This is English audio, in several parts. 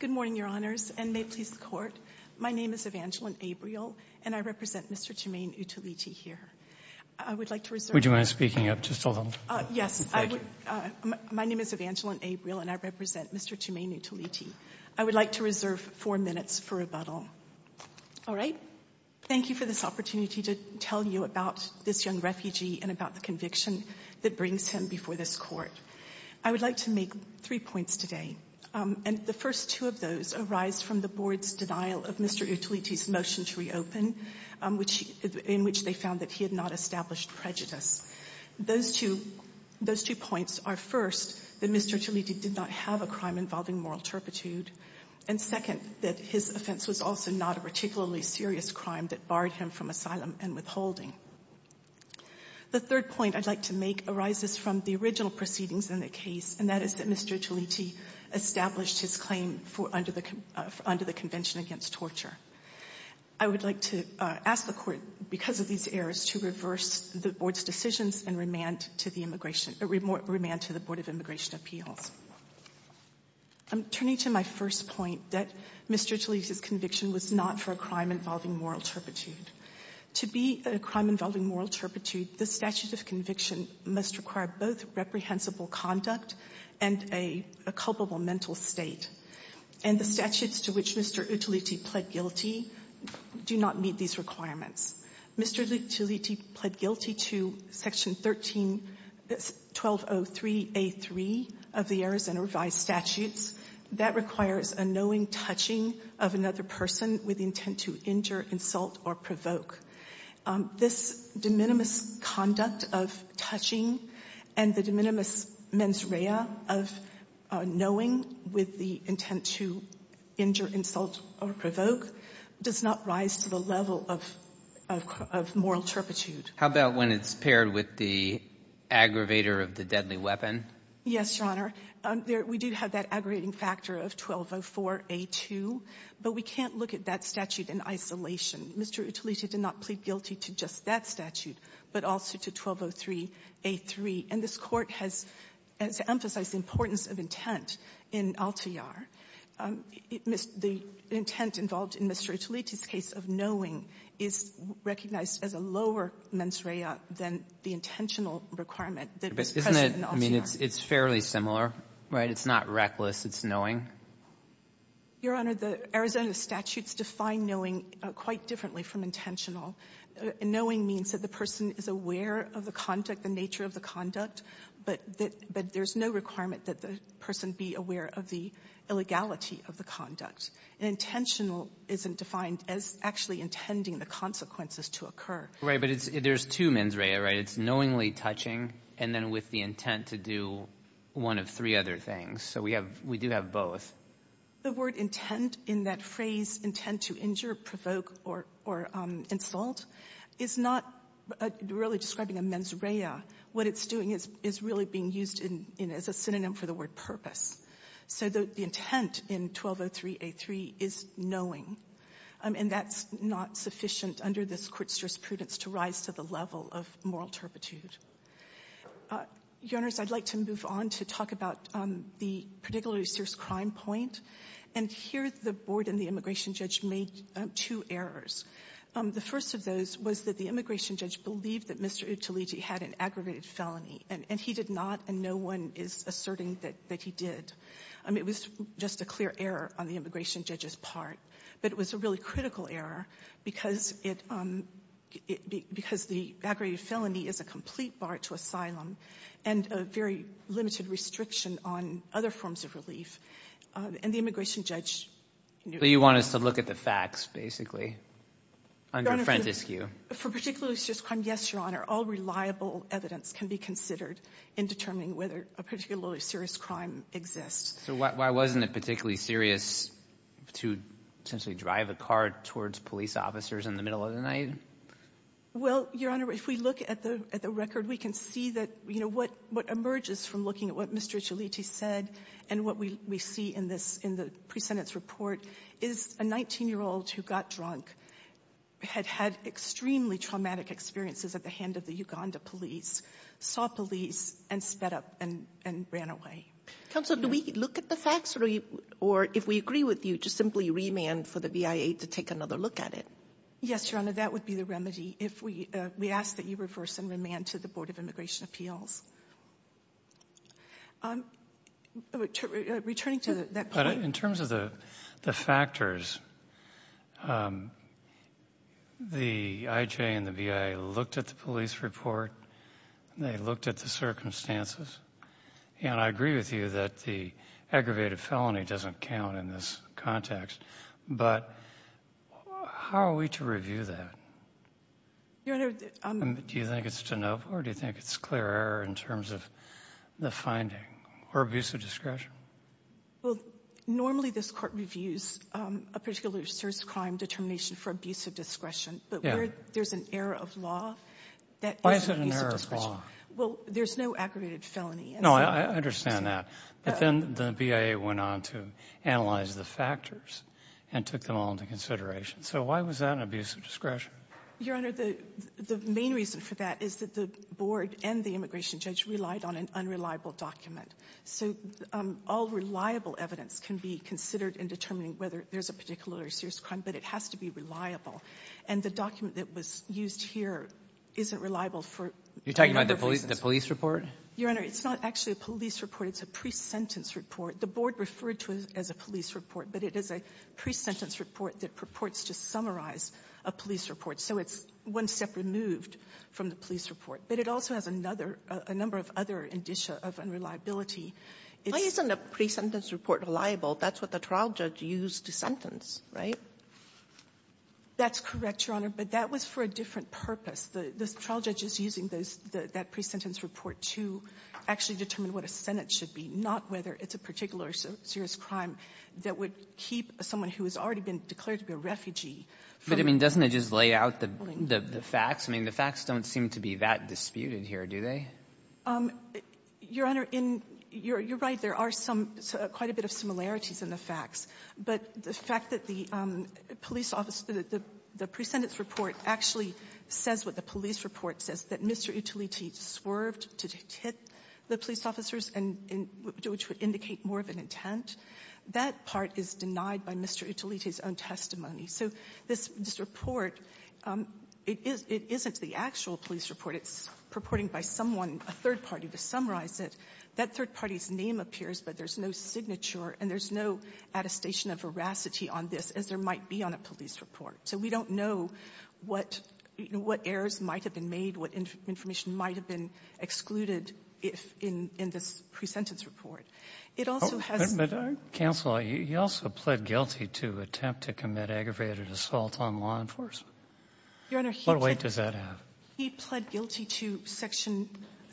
Good morning, Your Honors, and may it please the Court, my name is Evangeline Abriel and I represent Mr. Jumaine Utoliti here. I would like to reserve... Would you mind speaking up just a little? Yes, I would... My name is Evangeline Abriel and I represent Mr. Jumaine Utoliti. I would like to reserve four minutes for rebuttal. All right, thank you for this opportunity to tell you about this young refugee and about the conviction that brings him before this Court. I would like to make three points today, and the first two of those arise from the Board's denial of Mr. Utoliti's motion to reopen, in which they found that he had not established prejudice. Those two points are, first, that Mr. Utoliti did not have a crime involving moral turpitude, and second, that his offense was also not a particularly serious crime that barred him from asylum and withholding. The third point I'd like to make arises from the original proceedings in the case, and that is that Mr. Utoliti established his claim under the Convention Against Torture. I would like to ask the Court, because of these errors, to reverse the Board's decisions and remand to the Board of Immigration Appeals. I'm turning to my first point, that Mr. Utoliti's conviction was not for a crime involving moral turpitude. To be a crime involving moral turpitude, the statute of conviction must require both reprehensible conduct and a culpable mental state. And the statutes to which Mr. Utoliti pled guilty do not meet these requirements. Mr. Utoliti pled guilty to Section 1303A3 of the Arizona Revised Statutes. That requires a knowing touching of another person with intent to injure, insult, or provoke. This de minimis conduct of touching and the de minimis mens rea of knowing with the intent to injure, insult, or provoke does not rise to the level of moral turpitude. How about when it's paired with the aggravator of the deadly weapon? Yes, Your Honor. We do have that aggravating factor of 1204A2, but we can't look at that statute in isolation. Mr. Utoliti did not plead guilty to just that statute, but also to 1203A3. And this Court has emphasized the importance of intent in Altiar. The intent involved in Mr. Utoliti's case of knowing is recognized as a lower mens rea than the intentional requirement that was present in Altiar. I mean, it's fairly similar, right? It's not reckless. It's knowing. Your Honor, the Arizona statutes define knowing quite differently from intentional. Knowing means that the person is aware of the conduct, the nature of the conduct, but there's no requirement that the person be aware of the illegality of the conduct. Intentional isn't defined as actually intending the consequences to occur. Right. But there's two mens rea, right? And then with the intent to do one of three other things. So we do have both. The word intent in that phrase, intent to injure, provoke, or insult, is not really describing a mens rea. What it's doing is really being used as a synonym for the word purpose. So the intent in 1203A3 is knowing. And that's not sufficient under this court's jurisprudence to rise to the level of moral turpitude. Your Honors, I'd like to move on to talk about the particularly serious crime point. And here the Board and the immigration judge made two errors. The first of those was that the immigration judge believed that Mr. Utilegi had an aggravated felony, and he did not, and no one is asserting that he did. It was just a clear error on the immigration judge's part. But it was a really critical error because the aggravated felony is a complete bar to asylum and a very limited restriction on other forms of relief. And the immigration judge knew that. So you want us to look at the facts, basically, under frantic skew. For particularly serious crime, yes, Your Honor. All reliable evidence can be considered in determining whether a particularly serious crime exists. So why wasn't it particularly serious to essentially drive a car towards police officers in the middle of the night? Well, Your Honor, if we look at the record, we can see that, you know, what emerges from looking at what Mr. Utilegi said and what we see in this, in the pre-sentence report is a 19-year-old who got drunk, had had extremely traumatic experiences at the hand of the Uganda police, saw police, and sped up and ran away. Counsel, do we look at the facts, or if we agree with you, just simply remand for the VIA to take another look at it? Yes, Your Honor, that would be the remedy if we ask that you reverse and remand to the Board of Immigration Appeals. Returning to that point. But in terms of the factors, the IJA and the VIA looked at the police report. They looked at the circumstances. And I agree with you that the aggravated felony doesn't count in this context. But how are we to review that? Your Honor, I'm going to do that. Do you think it's enough, or do you think it's clear error in terms of the finding or abuse of discretion? Well, normally this court reviews a particular serious crime determination for abuse of discretion. But where there's an error of law, that is an abuse of discretion. Why is it an error of law? Well, there's no aggravated felony. No, I understand that. But then the VIA went on to analyze the factors and took them all into consideration. So why was that an abuse of discretion? Your Honor, the main reason for that is that the board and the immigration judge relied on an unreliable document. So all reliable evidence can be considered in determining whether there's a particular or serious crime, but it has to be reliable. And the document that was used here isn't reliable for a number of reasons. You're talking about the police report? Your Honor, it's not actually a police report. It's a pre-sentence report. The board referred to it as a police report, but it is a pre-sentence report that purports to summarize a police report. So it's one step removed from the police report. But it also has another, a number of other indicia of unreliability. Why isn't a pre-sentence report reliable? That's what the trial judge used to sentence, right? That's correct, Your Honor. But that was for a different purpose. The trial judge is using those, that pre-sentence report to actually determine what a sentence should be, not whether it's a particular serious crime that would keep someone who has already been declared to be a refugee from the building. But, I mean, doesn't it just lay out the facts? I mean, the facts don't seem to be that disputed here, do they? Your Honor, in you're right. There are some, quite a bit of similarities in the facts. But the fact that the police officer, the pre-sentence report actually says what the police report says, that Mr. Utiliti swerved to hit the police officers, which would indicate more of an intent. That part is denied by Mr. Utiliti's own testimony. So this report, it isn't the actual police report. It's purporting by someone, a third party, to summarize it. That third party's name appears, but there's no signature and there's no attestation of veracity on this as there might be on a police report. So we don't know what errors might have been made, what information might have been excluded if in this pre-sentence report. It also has the ---- aggravated assault on law enforcement. What weight does that have? He pled guilty to Section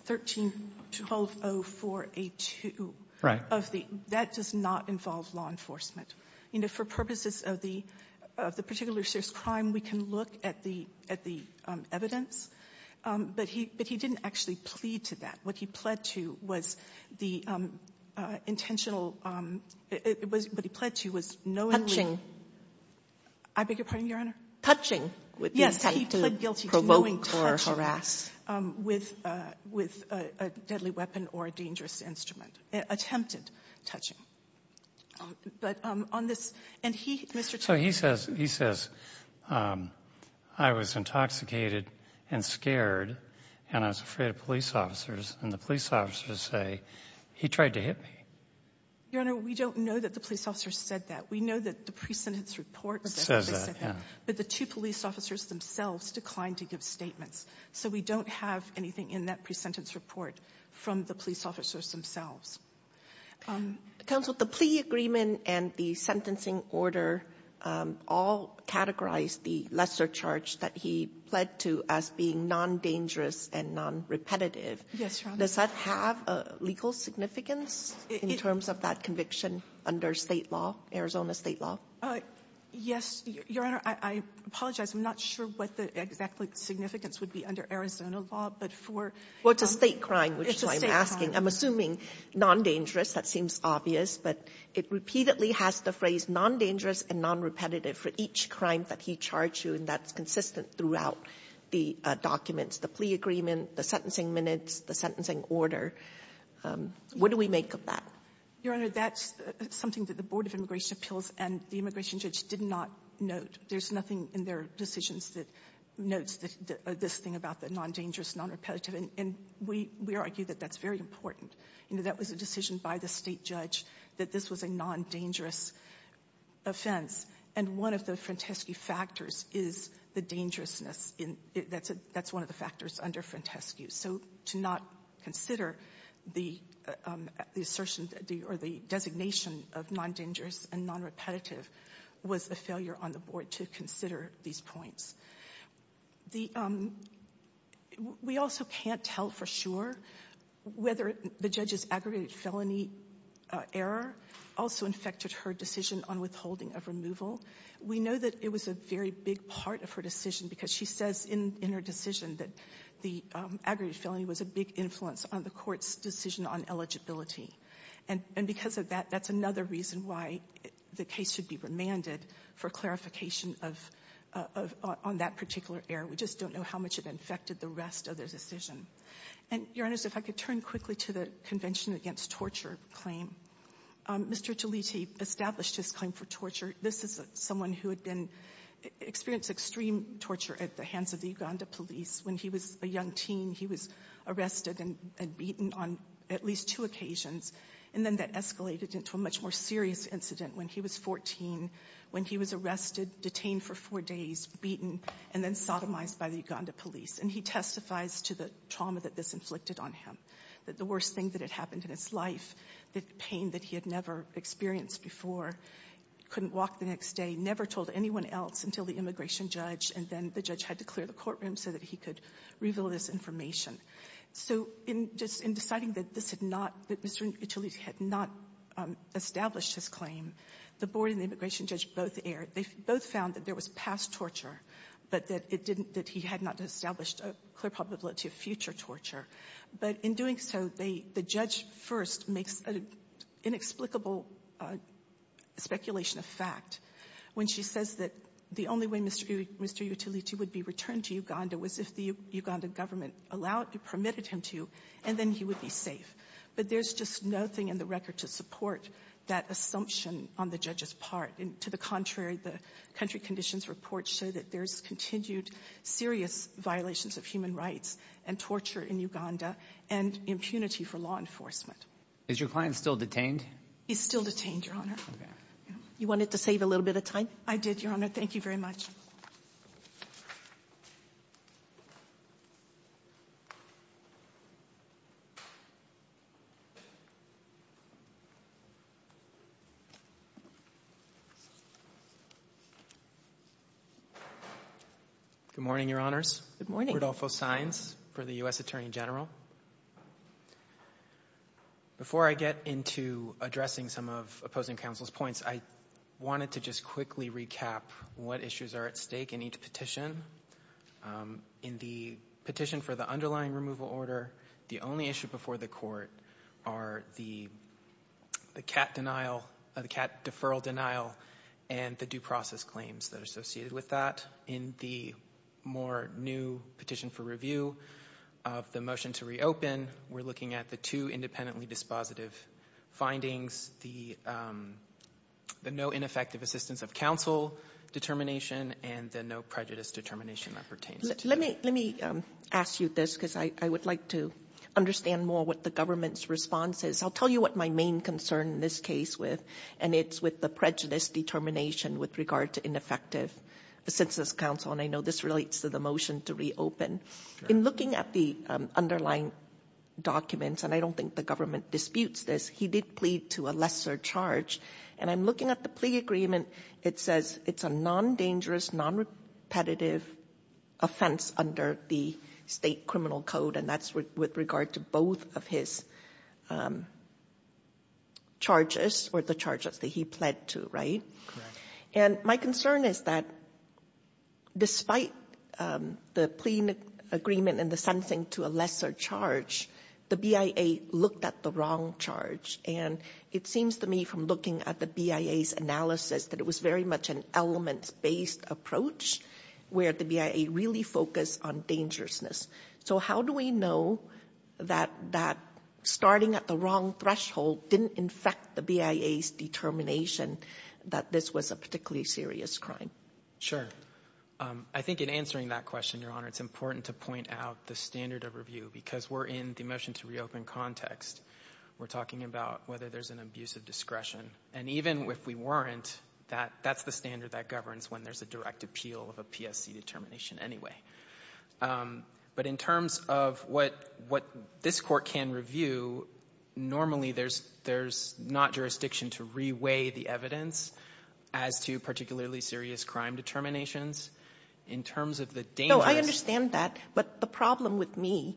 13-1204A2. Right. That does not involve law enforcement. You know, for purposes of the particular serious crime, we can look at the evidence. But he didn't actually plead to that. What he pled to was the intentional ---- what he pled to was knowingly ---- Hutching. I beg your pardon, Your Honor? Hutching. Yes, he pled guilty to knowingly touching with a deadly weapon or a dangerous instrument, attempted touching. But on this ---- and he, Mr. Chairman ---- So he says, he says, I was intoxicated and scared and I was afraid of police officers, and the police officers say he tried to hit me. Your Honor, we don't know that the police officer said that. We know that the pre-sentence report says that. Says that, yeah. But the two police officers themselves declined to give statements. So we don't have anything in that pre-sentence report from the police officers themselves. Counsel, the plea agreement and the sentencing order all categorize the lesser charge that he pled to as being non-dangerous and non-repetitive. Yes, Your Honor. Does that have a legal significance in terms of that conviction under State law, Arizona State law? Yes, Your Honor. I apologize. I'm not sure what the exact significance would be under Arizona law, but for ---- Well, it's a State crime, which is why I'm asking. It's a State crime. I'm assuming non-dangerous. That seems obvious. But it repeatedly has the phrase non-dangerous and non-repetitive for each crime that he charged you, and that's the documents, the plea agreement, the sentencing minutes, the sentencing order. What do we make of that? Your Honor, that's something that the Board of Immigration Appeals and the immigration judge did not note. There's nothing in their decisions that notes this thing about the non-dangerous, non-repetitive. And we argue that that's very important. You know, that was a decision by the State judge that this was a non-dangerous offense, and one of the Franteschi factors is the dangerousness. That's one of the factors under Franteschi. So to not consider the assertion or the designation of non-dangerous and non-repetitive was a failure on the Board to consider these points. The ---- We also can't tell for sure whether the judge's aggregated felony error also infected her decision on withholding of removal. We know that it was a very big part of her decision because she says in her decision that the aggregated felony was a big influence on the Court's decision on eligibility. And because of that, that's another reason why the case should be remanded for clarification of ---- on that particular error. We just don't know how much it infected the rest of the decision. And, Your Honors, if I could turn quickly to the Convention Against Torture claim. Mr. Jaliti established his claim for torture. This is someone who had been ---- experienced extreme torture at the hands of the Uganda police. When he was a young teen, he was arrested and beaten on at least two occasions. And then that escalated into a much more serious incident when he was 14, when he was arrested, detained for four days, beaten, and then sodomized by the Uganda police. And he testifies to the trauma that this inflicted on him, that the worst thing that had happened in his life, the pain that he had never experienced before, couldn't walk the next day, never told anyone else until the immigration judge, and then the judge had to clear the courtroom so that he could reveal this information. So in deciding that this had not ---- that Mr. Jaliti had not established his claim, the board and the immigration judge both erred. They both found that there was past torture, but that it didn't ---- that he had not established a clear probability of future torture. But in doing so, they ---- the judge first makes an inexplicable speculation of fact when she says that the only way Mr. Jaliti would be returned to Uganda was if the Uganda government allowed, permitted him to, and then he would be safe. But there's just nothing in the record to support that assumption on the judge's part. And to the contrary, the country conditions report show that there's continued serious violations of human rights and torture in Uganda and impunity for law enforcement. Is your client still detained? He's still detained, Your Honor. Okay. You wanted to save a little bit of time? I did, Your Honor. Thank you very much. Good morning, Your Honors. Good morning. Rodolfo Saenz for the U.S. Attorney General. Before I get into addressing some of opposing counsel's points, I wanted to just quickly recap what issues are at stake in each petition. In the petition for the underlying removal order, the only issue before the court are the cat denial, the cat deferral denial, and the due process claims that are associated with that. In the more new petition for review of the motion to reopen, we're looking at the two independently dispositive findings, the no ineffective assistance of counsel determination and the no prejudice determination that pertains to Let me ask you this because I would like to understand more what the government's response is. I'll tell you what my main concern in this case was, and it's with the prejudice determination with regard to ineffective assistance of counsel. And I know this relates to the motion to reopen. In looking at the underlying documents, and I don't think the government disputes this, he did plead to a lesser charge. And I'm looking at the plea agreement, it says it's a non-dangerous, non-repetitive offense under the state criminal code, and that's with regard to both of his charges or the charges that he pled to, right? And my concern is that despite the plea agreement and the sensing to a lesser charge, the BIA looked at the wrong charge. And it seems to me from looking at the BIA's analysis that it was very much an elements-based approach where the BIA really focused on dangerousness. So how do we know that starting at the wrong threshold didn't infect the BIA's determination that this was a particularly serious crime? Sure. I think in answering that question, Your Honor, it's important to point out the standard of review because we're in the motion to reopen context. We're talking about whether there's an abuse of discretion. And even if we weren't, that's the standard that governs when there's a direct appeal of a PSC determination anyway. But in terms of what this Court can review, normally there's not jurisdiction to re-weigh the evidence as to particularly serious crime determinations. In terms of the dangerous ---- No, I understand that. But the problem with me,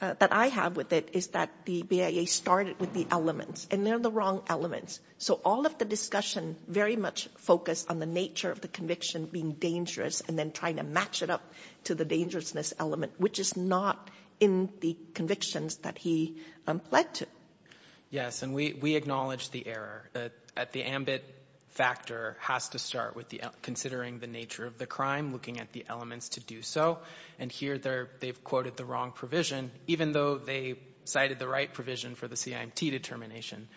that I have with it, is that the BIA started with the elements, and they're the wrong elements. So all of the discussion very much focused on the nature of the conviction being dangerous and then trying to match it up to the dangerousness element, which is not in the convictions that he pled to. Yes. And we acknowledge the error. At the ambit factor has to start with the ---- considering the nature of the crime, looking at the elements to do so. And here they've quoted the wrong provision, even though they cited the right provision for the CIMT determination.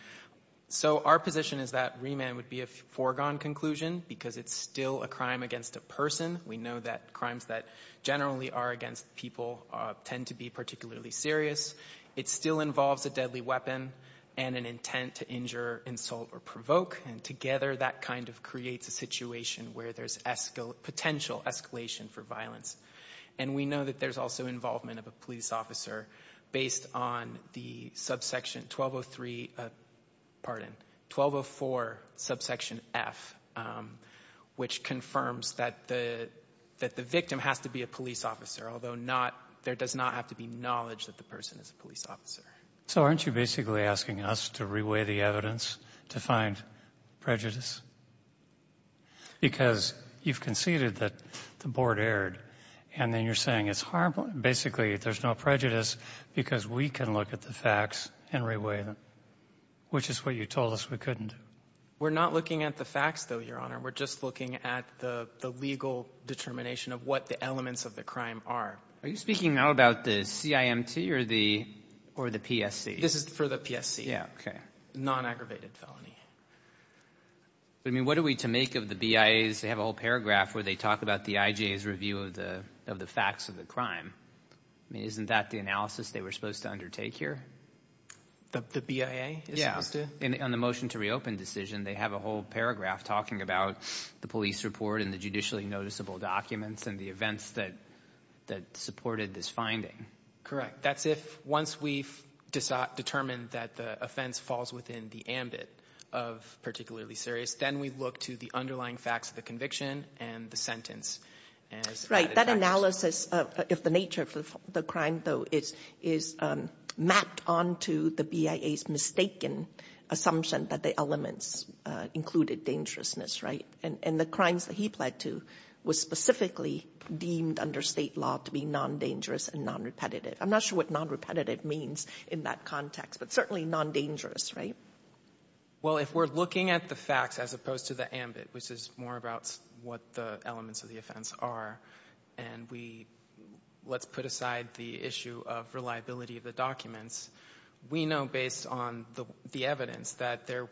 So our position is that remand would be a foregone conclusion because it's still a crime against a person. We know that crimes that generally are against people tend to be particularly serious. It still involves a deadly weapon and an intent to injure, insult, or provoke. And together that kind of creates a situation where there's potential escalation for violence. And we know that there's also involvement of a police officer based on the subsection 1203, pardon, 1204 subsection F, which confirms that the victim has to be a police officer, although there does not have to be knowledge that the person is a police officer. So aren't you basically asking us to reweigh the evidence to find prejudice? Because you've conceded that the Board erred, and then you're saying it's harmful and basically there's no prejudice because we can look at the facts and reweigh them, which is what you told us we couldn't do. We're not looking at the facts, though, Your Honor. We're just looking at the legal determination of what the elements of the crime are. Are you speaking now about the CIMT or the PSC? This is for the PSC. Yeah. Okay. Non-aggravated felony. I mean, what are we to make of the BIAs? They have a whole paragraph where they talk about the IJA's review of the facts of the crime. I mean, isn't that the analysis they were supposed to undertake here? The BIA is supposed to? Yeah. On the motion to reopen decision, they have a whole paragraph talking about the police report and the judicially noticeable documents and the events that supported this finding. Correct. That's if once we've determined that the offense falls within the ambit of particularly serious, then we look to the underlying facts of the conviction and the sentence. That analysis of the nature of the crime, though, is mapped onto the BIA's mistaken assumption that the elements included dangerousness, right? And the crimes that he pled to were specifically deemed under state law to be non-dangerous and non-repetitive. I'm not sure what non-repetitive means in that context, but certainly non-dangerous, right? Well, if we're looking at the facts as opposed to the ambit, which is more about what the elements of the offense are, and we let's put aside the issue of reliability of the documents, we know based on the evidence that there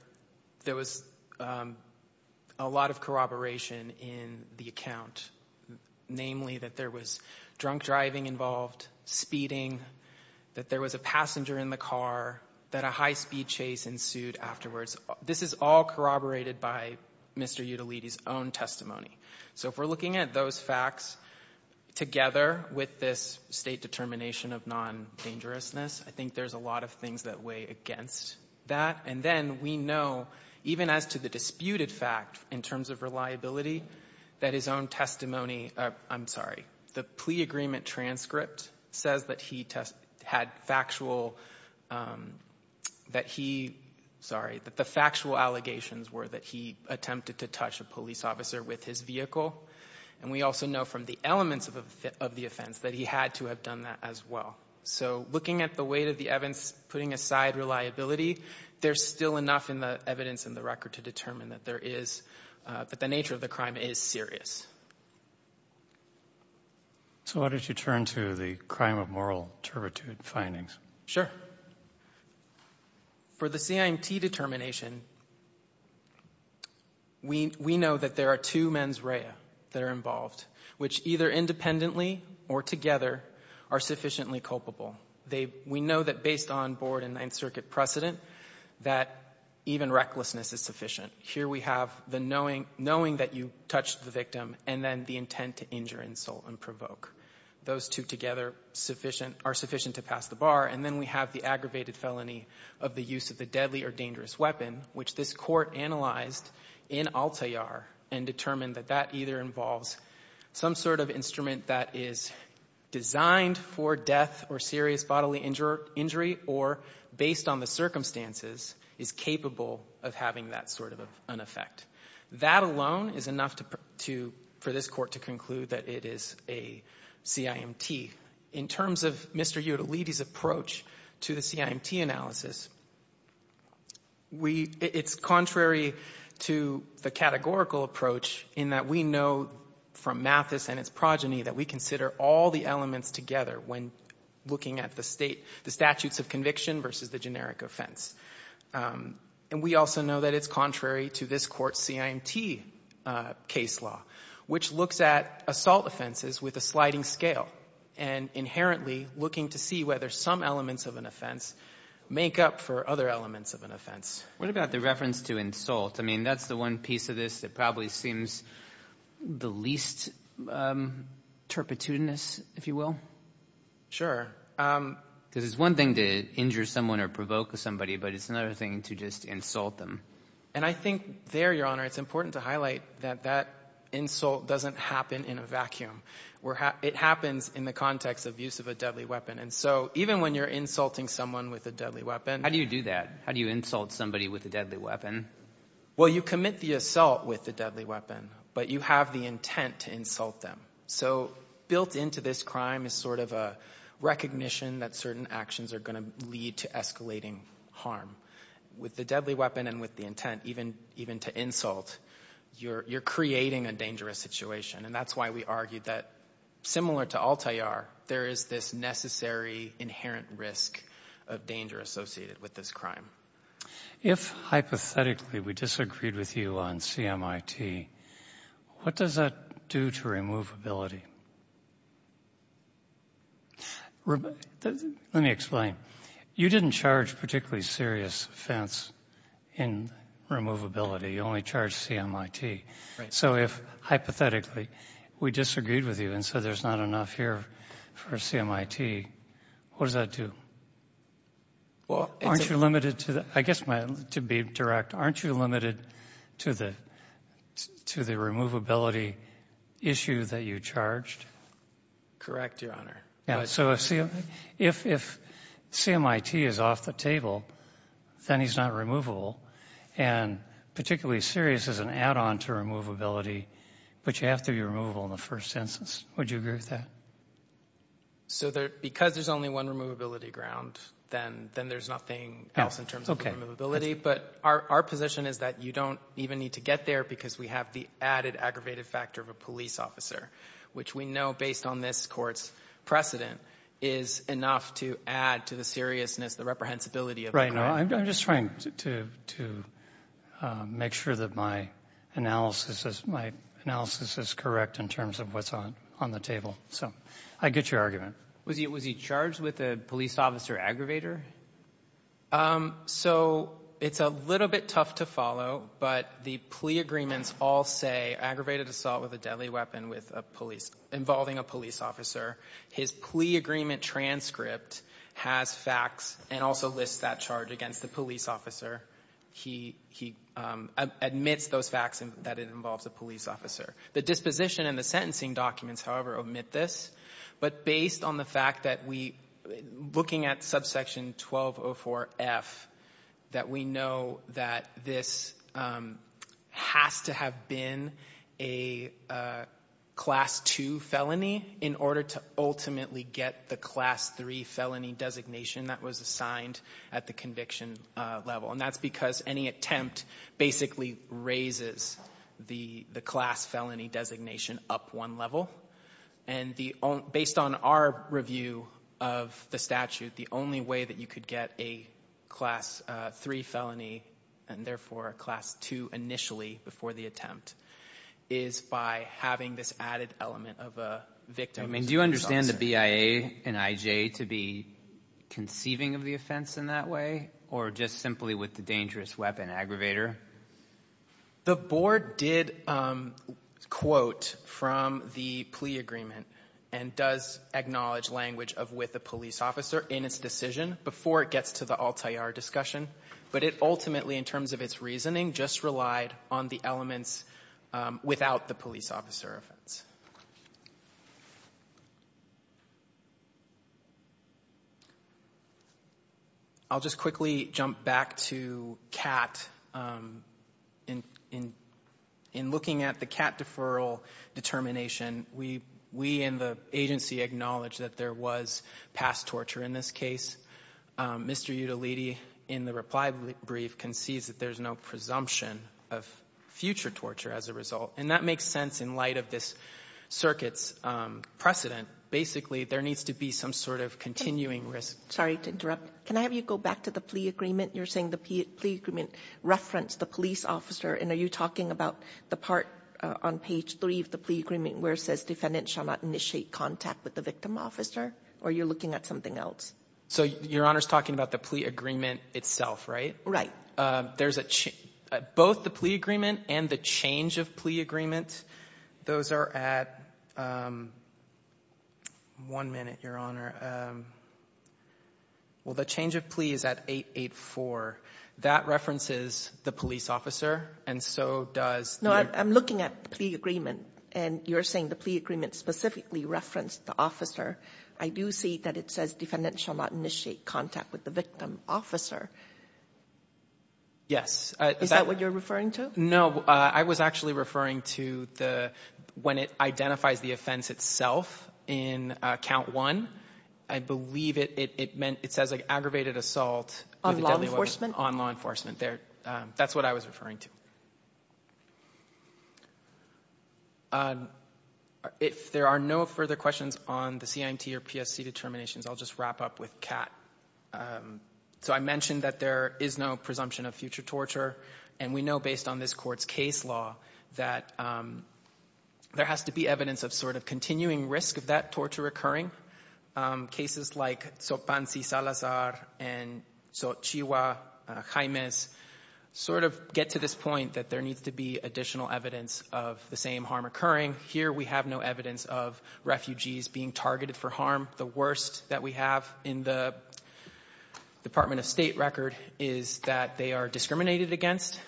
was a lot of corroboration in the account, namely that there was drunk driving involved, speeding, that there was a passenger in the car, that a high-speed chase ensued afterwards. This is all corroborated by Mr. Udaliti's own testimony. So if we're looking at those facts together with this state determination of non-dangerousness, I think there's a lot of things that weigh against that. And then we know, even as to the disputed fact in terms of reliability, that his own testimony, I'm sorry, the plea agreement transcript says that he had factual, that he, sorry, that the factual allegations were that he attempted to touch a police officer with his vehicle. And we also know from the elements of the offense that he had to have done that as well. So looking at the weight of the evidence, putting aside reliability, there's still enough in the evidence in the record to determine that there is, that the nature of the crime is serious. So why don't you turn to the crime of moral turpitude findings? Sure. For the CIMT determination, we know that there are two mens rea that are involved, which either independently or together are sufficiently culpable. We know that based on Board and Ninth Circuit precedent that even recklessness is sufficient. Here we have the knowing that you touched the victim and then the intent to injure, insult, and provoke. Those two together are sufficient to pass the bar. And then we have the aggravated felony of the use of the deadly or dangerous weapon, which this Court analyzed in Altayar and determined that that either involves some sort of instrument that is designed for death or serious bodily injury or, based on the circumstances, is capable of having that sort of an effect. That alone is enough for this Court to conclude that it is a CIMT. In terms of Mr. Udaliti's approach to the CIMT analysis, it's contrary to the categorical approach in that we know from Mathis and its progeny that we consider all the elements together when looking at the statutes of conviction versus the generic offense. And we also know that it's contrary to this Court's CIMT case law, which looks at assault offenses with a sliding scale and inherently looking to see whether some elements of an offense make up for other elements of an offense. What about the reference to insult? I mean, that's the one piece of this that probably seems the least turpitudinous, if you will. Sure. Because it's one thing to injure someone or provoke somebody, but it's another thing to just insult them. And I think there, Your Honor, it's important to highlight that that insult doesn't happen in a vacuum. It happens in the context of use of a deadly weapon. And so even when you're insulting someone with a deadly weapon — How do you do that? How do you insult somebody with a deadly weapon? Well, you commit the assault with the deadly weapon, but you have the intent to insult them. So built into this crime is sort of a recognition that certain actions are going to lead to escalating harm. With the deadly weapon and with the intent even to insult, you're creating a dangerous situation. And that's why we argue that, similar to Altair, there is this necessary inherent risk of danger associated with this crime. If, hypothetically, we disagreed with you on CMIT, what does that do to removability? Let me explain. You didn't charge particularly serious offense in removability. You only charged CMIT. Right. So if, hypothetically, we disagreed with you and said there's not enough here for CMIT, what does that do? Aren't you limited to the — I guess, to be direct, aren't you limited to the removability issue that you charged? Correct, Your Honor. So if CMIT is off the table, then he's not removable. And particularly serious is an add-on to removability, but you have to be removable in the first instance. Would you agree with that? So because there's only one removability ground, then there's nothing else in terms of removability. But our position is that you don't even need to get there because we have the added aggravated factor of a police officer, which we know, based on this Court's precedent, is enough to add to the seriousness, the reprehensibility of the crime. I'm just trying to make sure that my analysis is correct in terms of what's on the table. So I get your argument. Was he charged with a police officer aggravator? So it's a little bit tough to follow, but the plea agreements all say aggravated assault with a deadly weapon involving a police officer. His plea agreement transcript has facts and also lists that charge against the police officer. He admits those facts that it involves a police officer. The disposition and the sentencing documents, however, omit this. But based on the fact that we, looking at subsection 1204F, that we know that this has to have been a Class II felony in order to ultimately get the Class III felony designation that was assigned at the conviction level. And that's because any attempt basically raises the Class felony designation up one level. And based on our review of the statute, the only way that you could get a Class III felony, and therefore a Class II initially before the attempt, is by having this added element of a victim. Do you understand the BIA and IJ to be conceiving of the offense in that way, or just simply with the dangerous weapon aggravator? The Board did quote from the plea agreement and does acknowledge language of with a police officer in its decision before it gets to the Altaïr discussion. But it ultimately, in terms of its reasoning, just relied on the elements without the police officer offense. I'll just quickly jump back to CAT. In looking at the CAT deferral determination, we and the agency acknowledge that there was past torture in this case. Mr. Udaliti, in the reply brief, concedes that there's no presumption of future torture as a result. And that makes sense in light of this circuit's precedent. Basically, there needs to be some sort of continuing risk. Sorry to interrupt. Can I have you go back to the plea agreement? You're saying the plea agreement referenced the police officer. And are you talking about the part on page 3 of the plea agreement where it says defendant shall not initiate contact with the victim officer, or you're looking at something else? So Your Honor's talking about the plea agreement itself, right? Right. Both the plea agreement and the change of plea agreement, those are at one minute, Your Honor. Well, the change of plea is at 884. That references the police officer, and so does the other. No, I'm looking at the plea agreement, and you're saying the plea agreement specifically referenced the officer. I do see that it says defendant shall not initiate contact with the victim officer. Yes. Is that what you're referring to? No. I was actually referring to when it identifies the offense itself in Count 1. I believe it says aggravated assault on law enforcement. That's what I was referring to. If there are no further questions on the CIMT or PSC determinations, I'll just wrap up with Kat. So I mentioned that there is no presumption of future torture, and we know, based on this Court's case law, that there has to be evidence of sort of continuing risk of that torture occurring. Cases like Sopansi Salazar and Xochitl Jimenez sort of get to this point that there needs to be additional evidence of the same harm occurring. Here we have no evidence of refugees being targeted for harm. The worst that we have in the Department of State record is that they are discriminated against.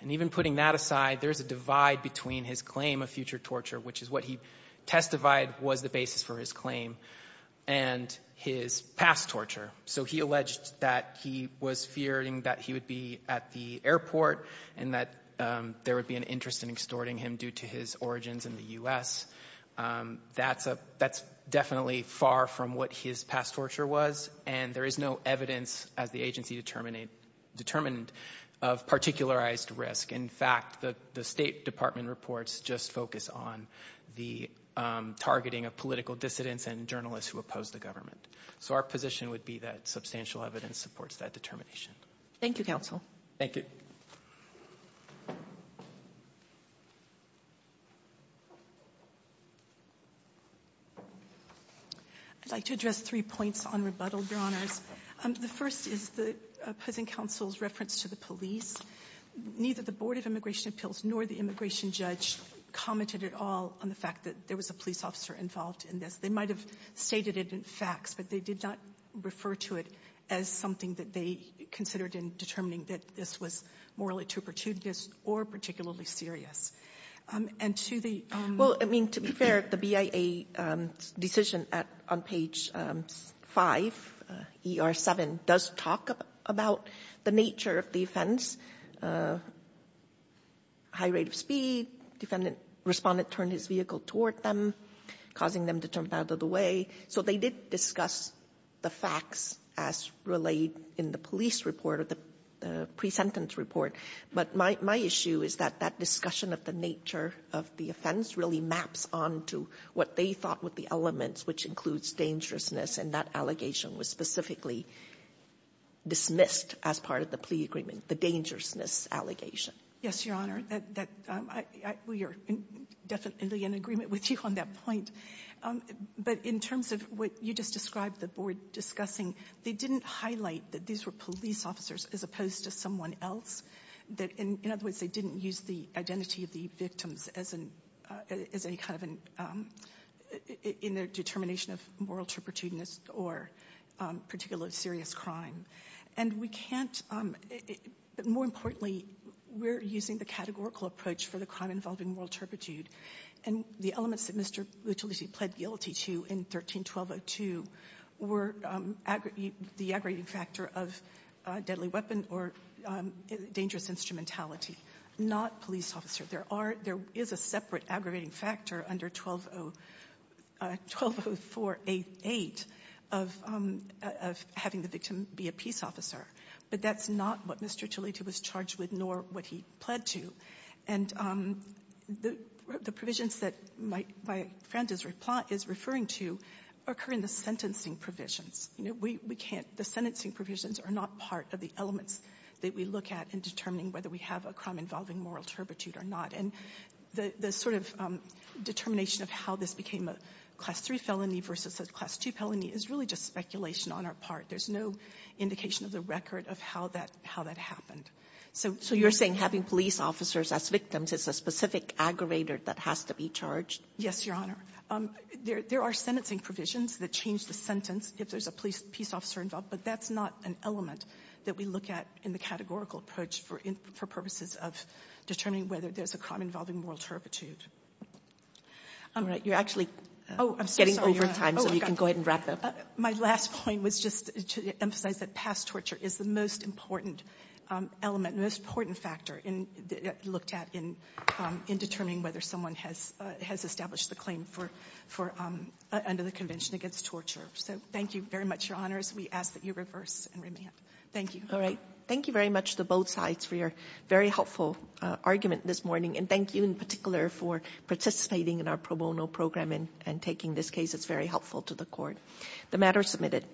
And even putting that aside, there is a divide between his claim of future torture, which is what he testified was the basis for his claim, and his past torture. So he alleged that he was fearing that he would be at the airport and that there would be an interest in extorting him due to his origins in the U.S. That's definitely far from what his past torture was, and there is no evidence, as the agency determined, of particularized risk. In fact, the State Department reports just focus on the targeting of political dissidents and journalists who oppose the government. So our position would be that substantial evidence supports that determination. Thank you, counsel. Thank you. I'd like to address three points on rebuttal, Your Honors. The first is the opposing counsel's reference to the police. Neither the Board of Immigration Appeals nor the immigration judge commented at all on the fact that there was a police officer involved in this. They might have stated it in facts, but they did not refer to it as something that they considered in determining that this was morally too pertubuous or particularly serious. And to the — Well, I mean, to be fair, the BIA decision on page 5, ER7, does talk about the nature of the offense, high rate of speed, defendant responded, turned his vehicle toward them, causing them to jump out of the way. So they did discuss the facts as relayed in the police report or the pre-sentence report. But my issue is that that discussion of the nature of the offense really maps onto what they thought were the elements, which includes dangerousness. And that allegation was specifically dismissed as part of the plea agreement, the dangerousness allegation. Yes, Your Honor. We are definitely in agreement with you on that point. But in terms of what you just described, the board discussing, they didn't highlight that these were police officers as opposed to someone else. In other words, they didn't use the identity of the victims as any kind of — in their determination of moral turpitude or particularly serious crime. And we can't — but more importantly, we're using the categorical approach for the crime involving moral turpitude. And the elements that Mr. Utility pled guilty to in 13-1202 were the aggravating factor of deadly weapon or dangerous instrumentality, not police officer. There are — there is a separate aggravating factor under 1204-88 of having the victim be a peace officer, but that's not what Mr. Utility was charged with, nor what he pled to. And the — what Mr. Utility was charged with, the provisions that my friend is referring to occur in the sentencing provisions. You know, we can't — the sentencing provisions are not part of the elements that we look at in determining whether we have a crime involving moral turpitude or not. And the sort of determination of how this became a Class III felony versus a Class II felony is really just speculation on our part. There's no indication of the record of how that — how that happened. So you're saying having police officers as victims is a specific aggravator that has to be charged? Yes, Your Honor. There are sentencing provisions that change the sentence if there's a police — peace officer involved, but that's not an element that we look at in the categorical approach for purposes of determining whether there's a crime involving moral turpitude. All right. You're actually getting over time, so you can go ahead and wrap up. My last point was just to emphasize that past torture is the most important element, most important factor in — looked at in determining whether someone has — has established the claim for — for — under the Convention Against Torture. So thank you very much, Your Honors. We ask that you reverse and remand. Thank you. All right. Thank you very much to both sides for your very helpful argument this morning, and thank you in particular for participating in our pro bono program and taking this case. It's very helpful to the court. The matter is submitted.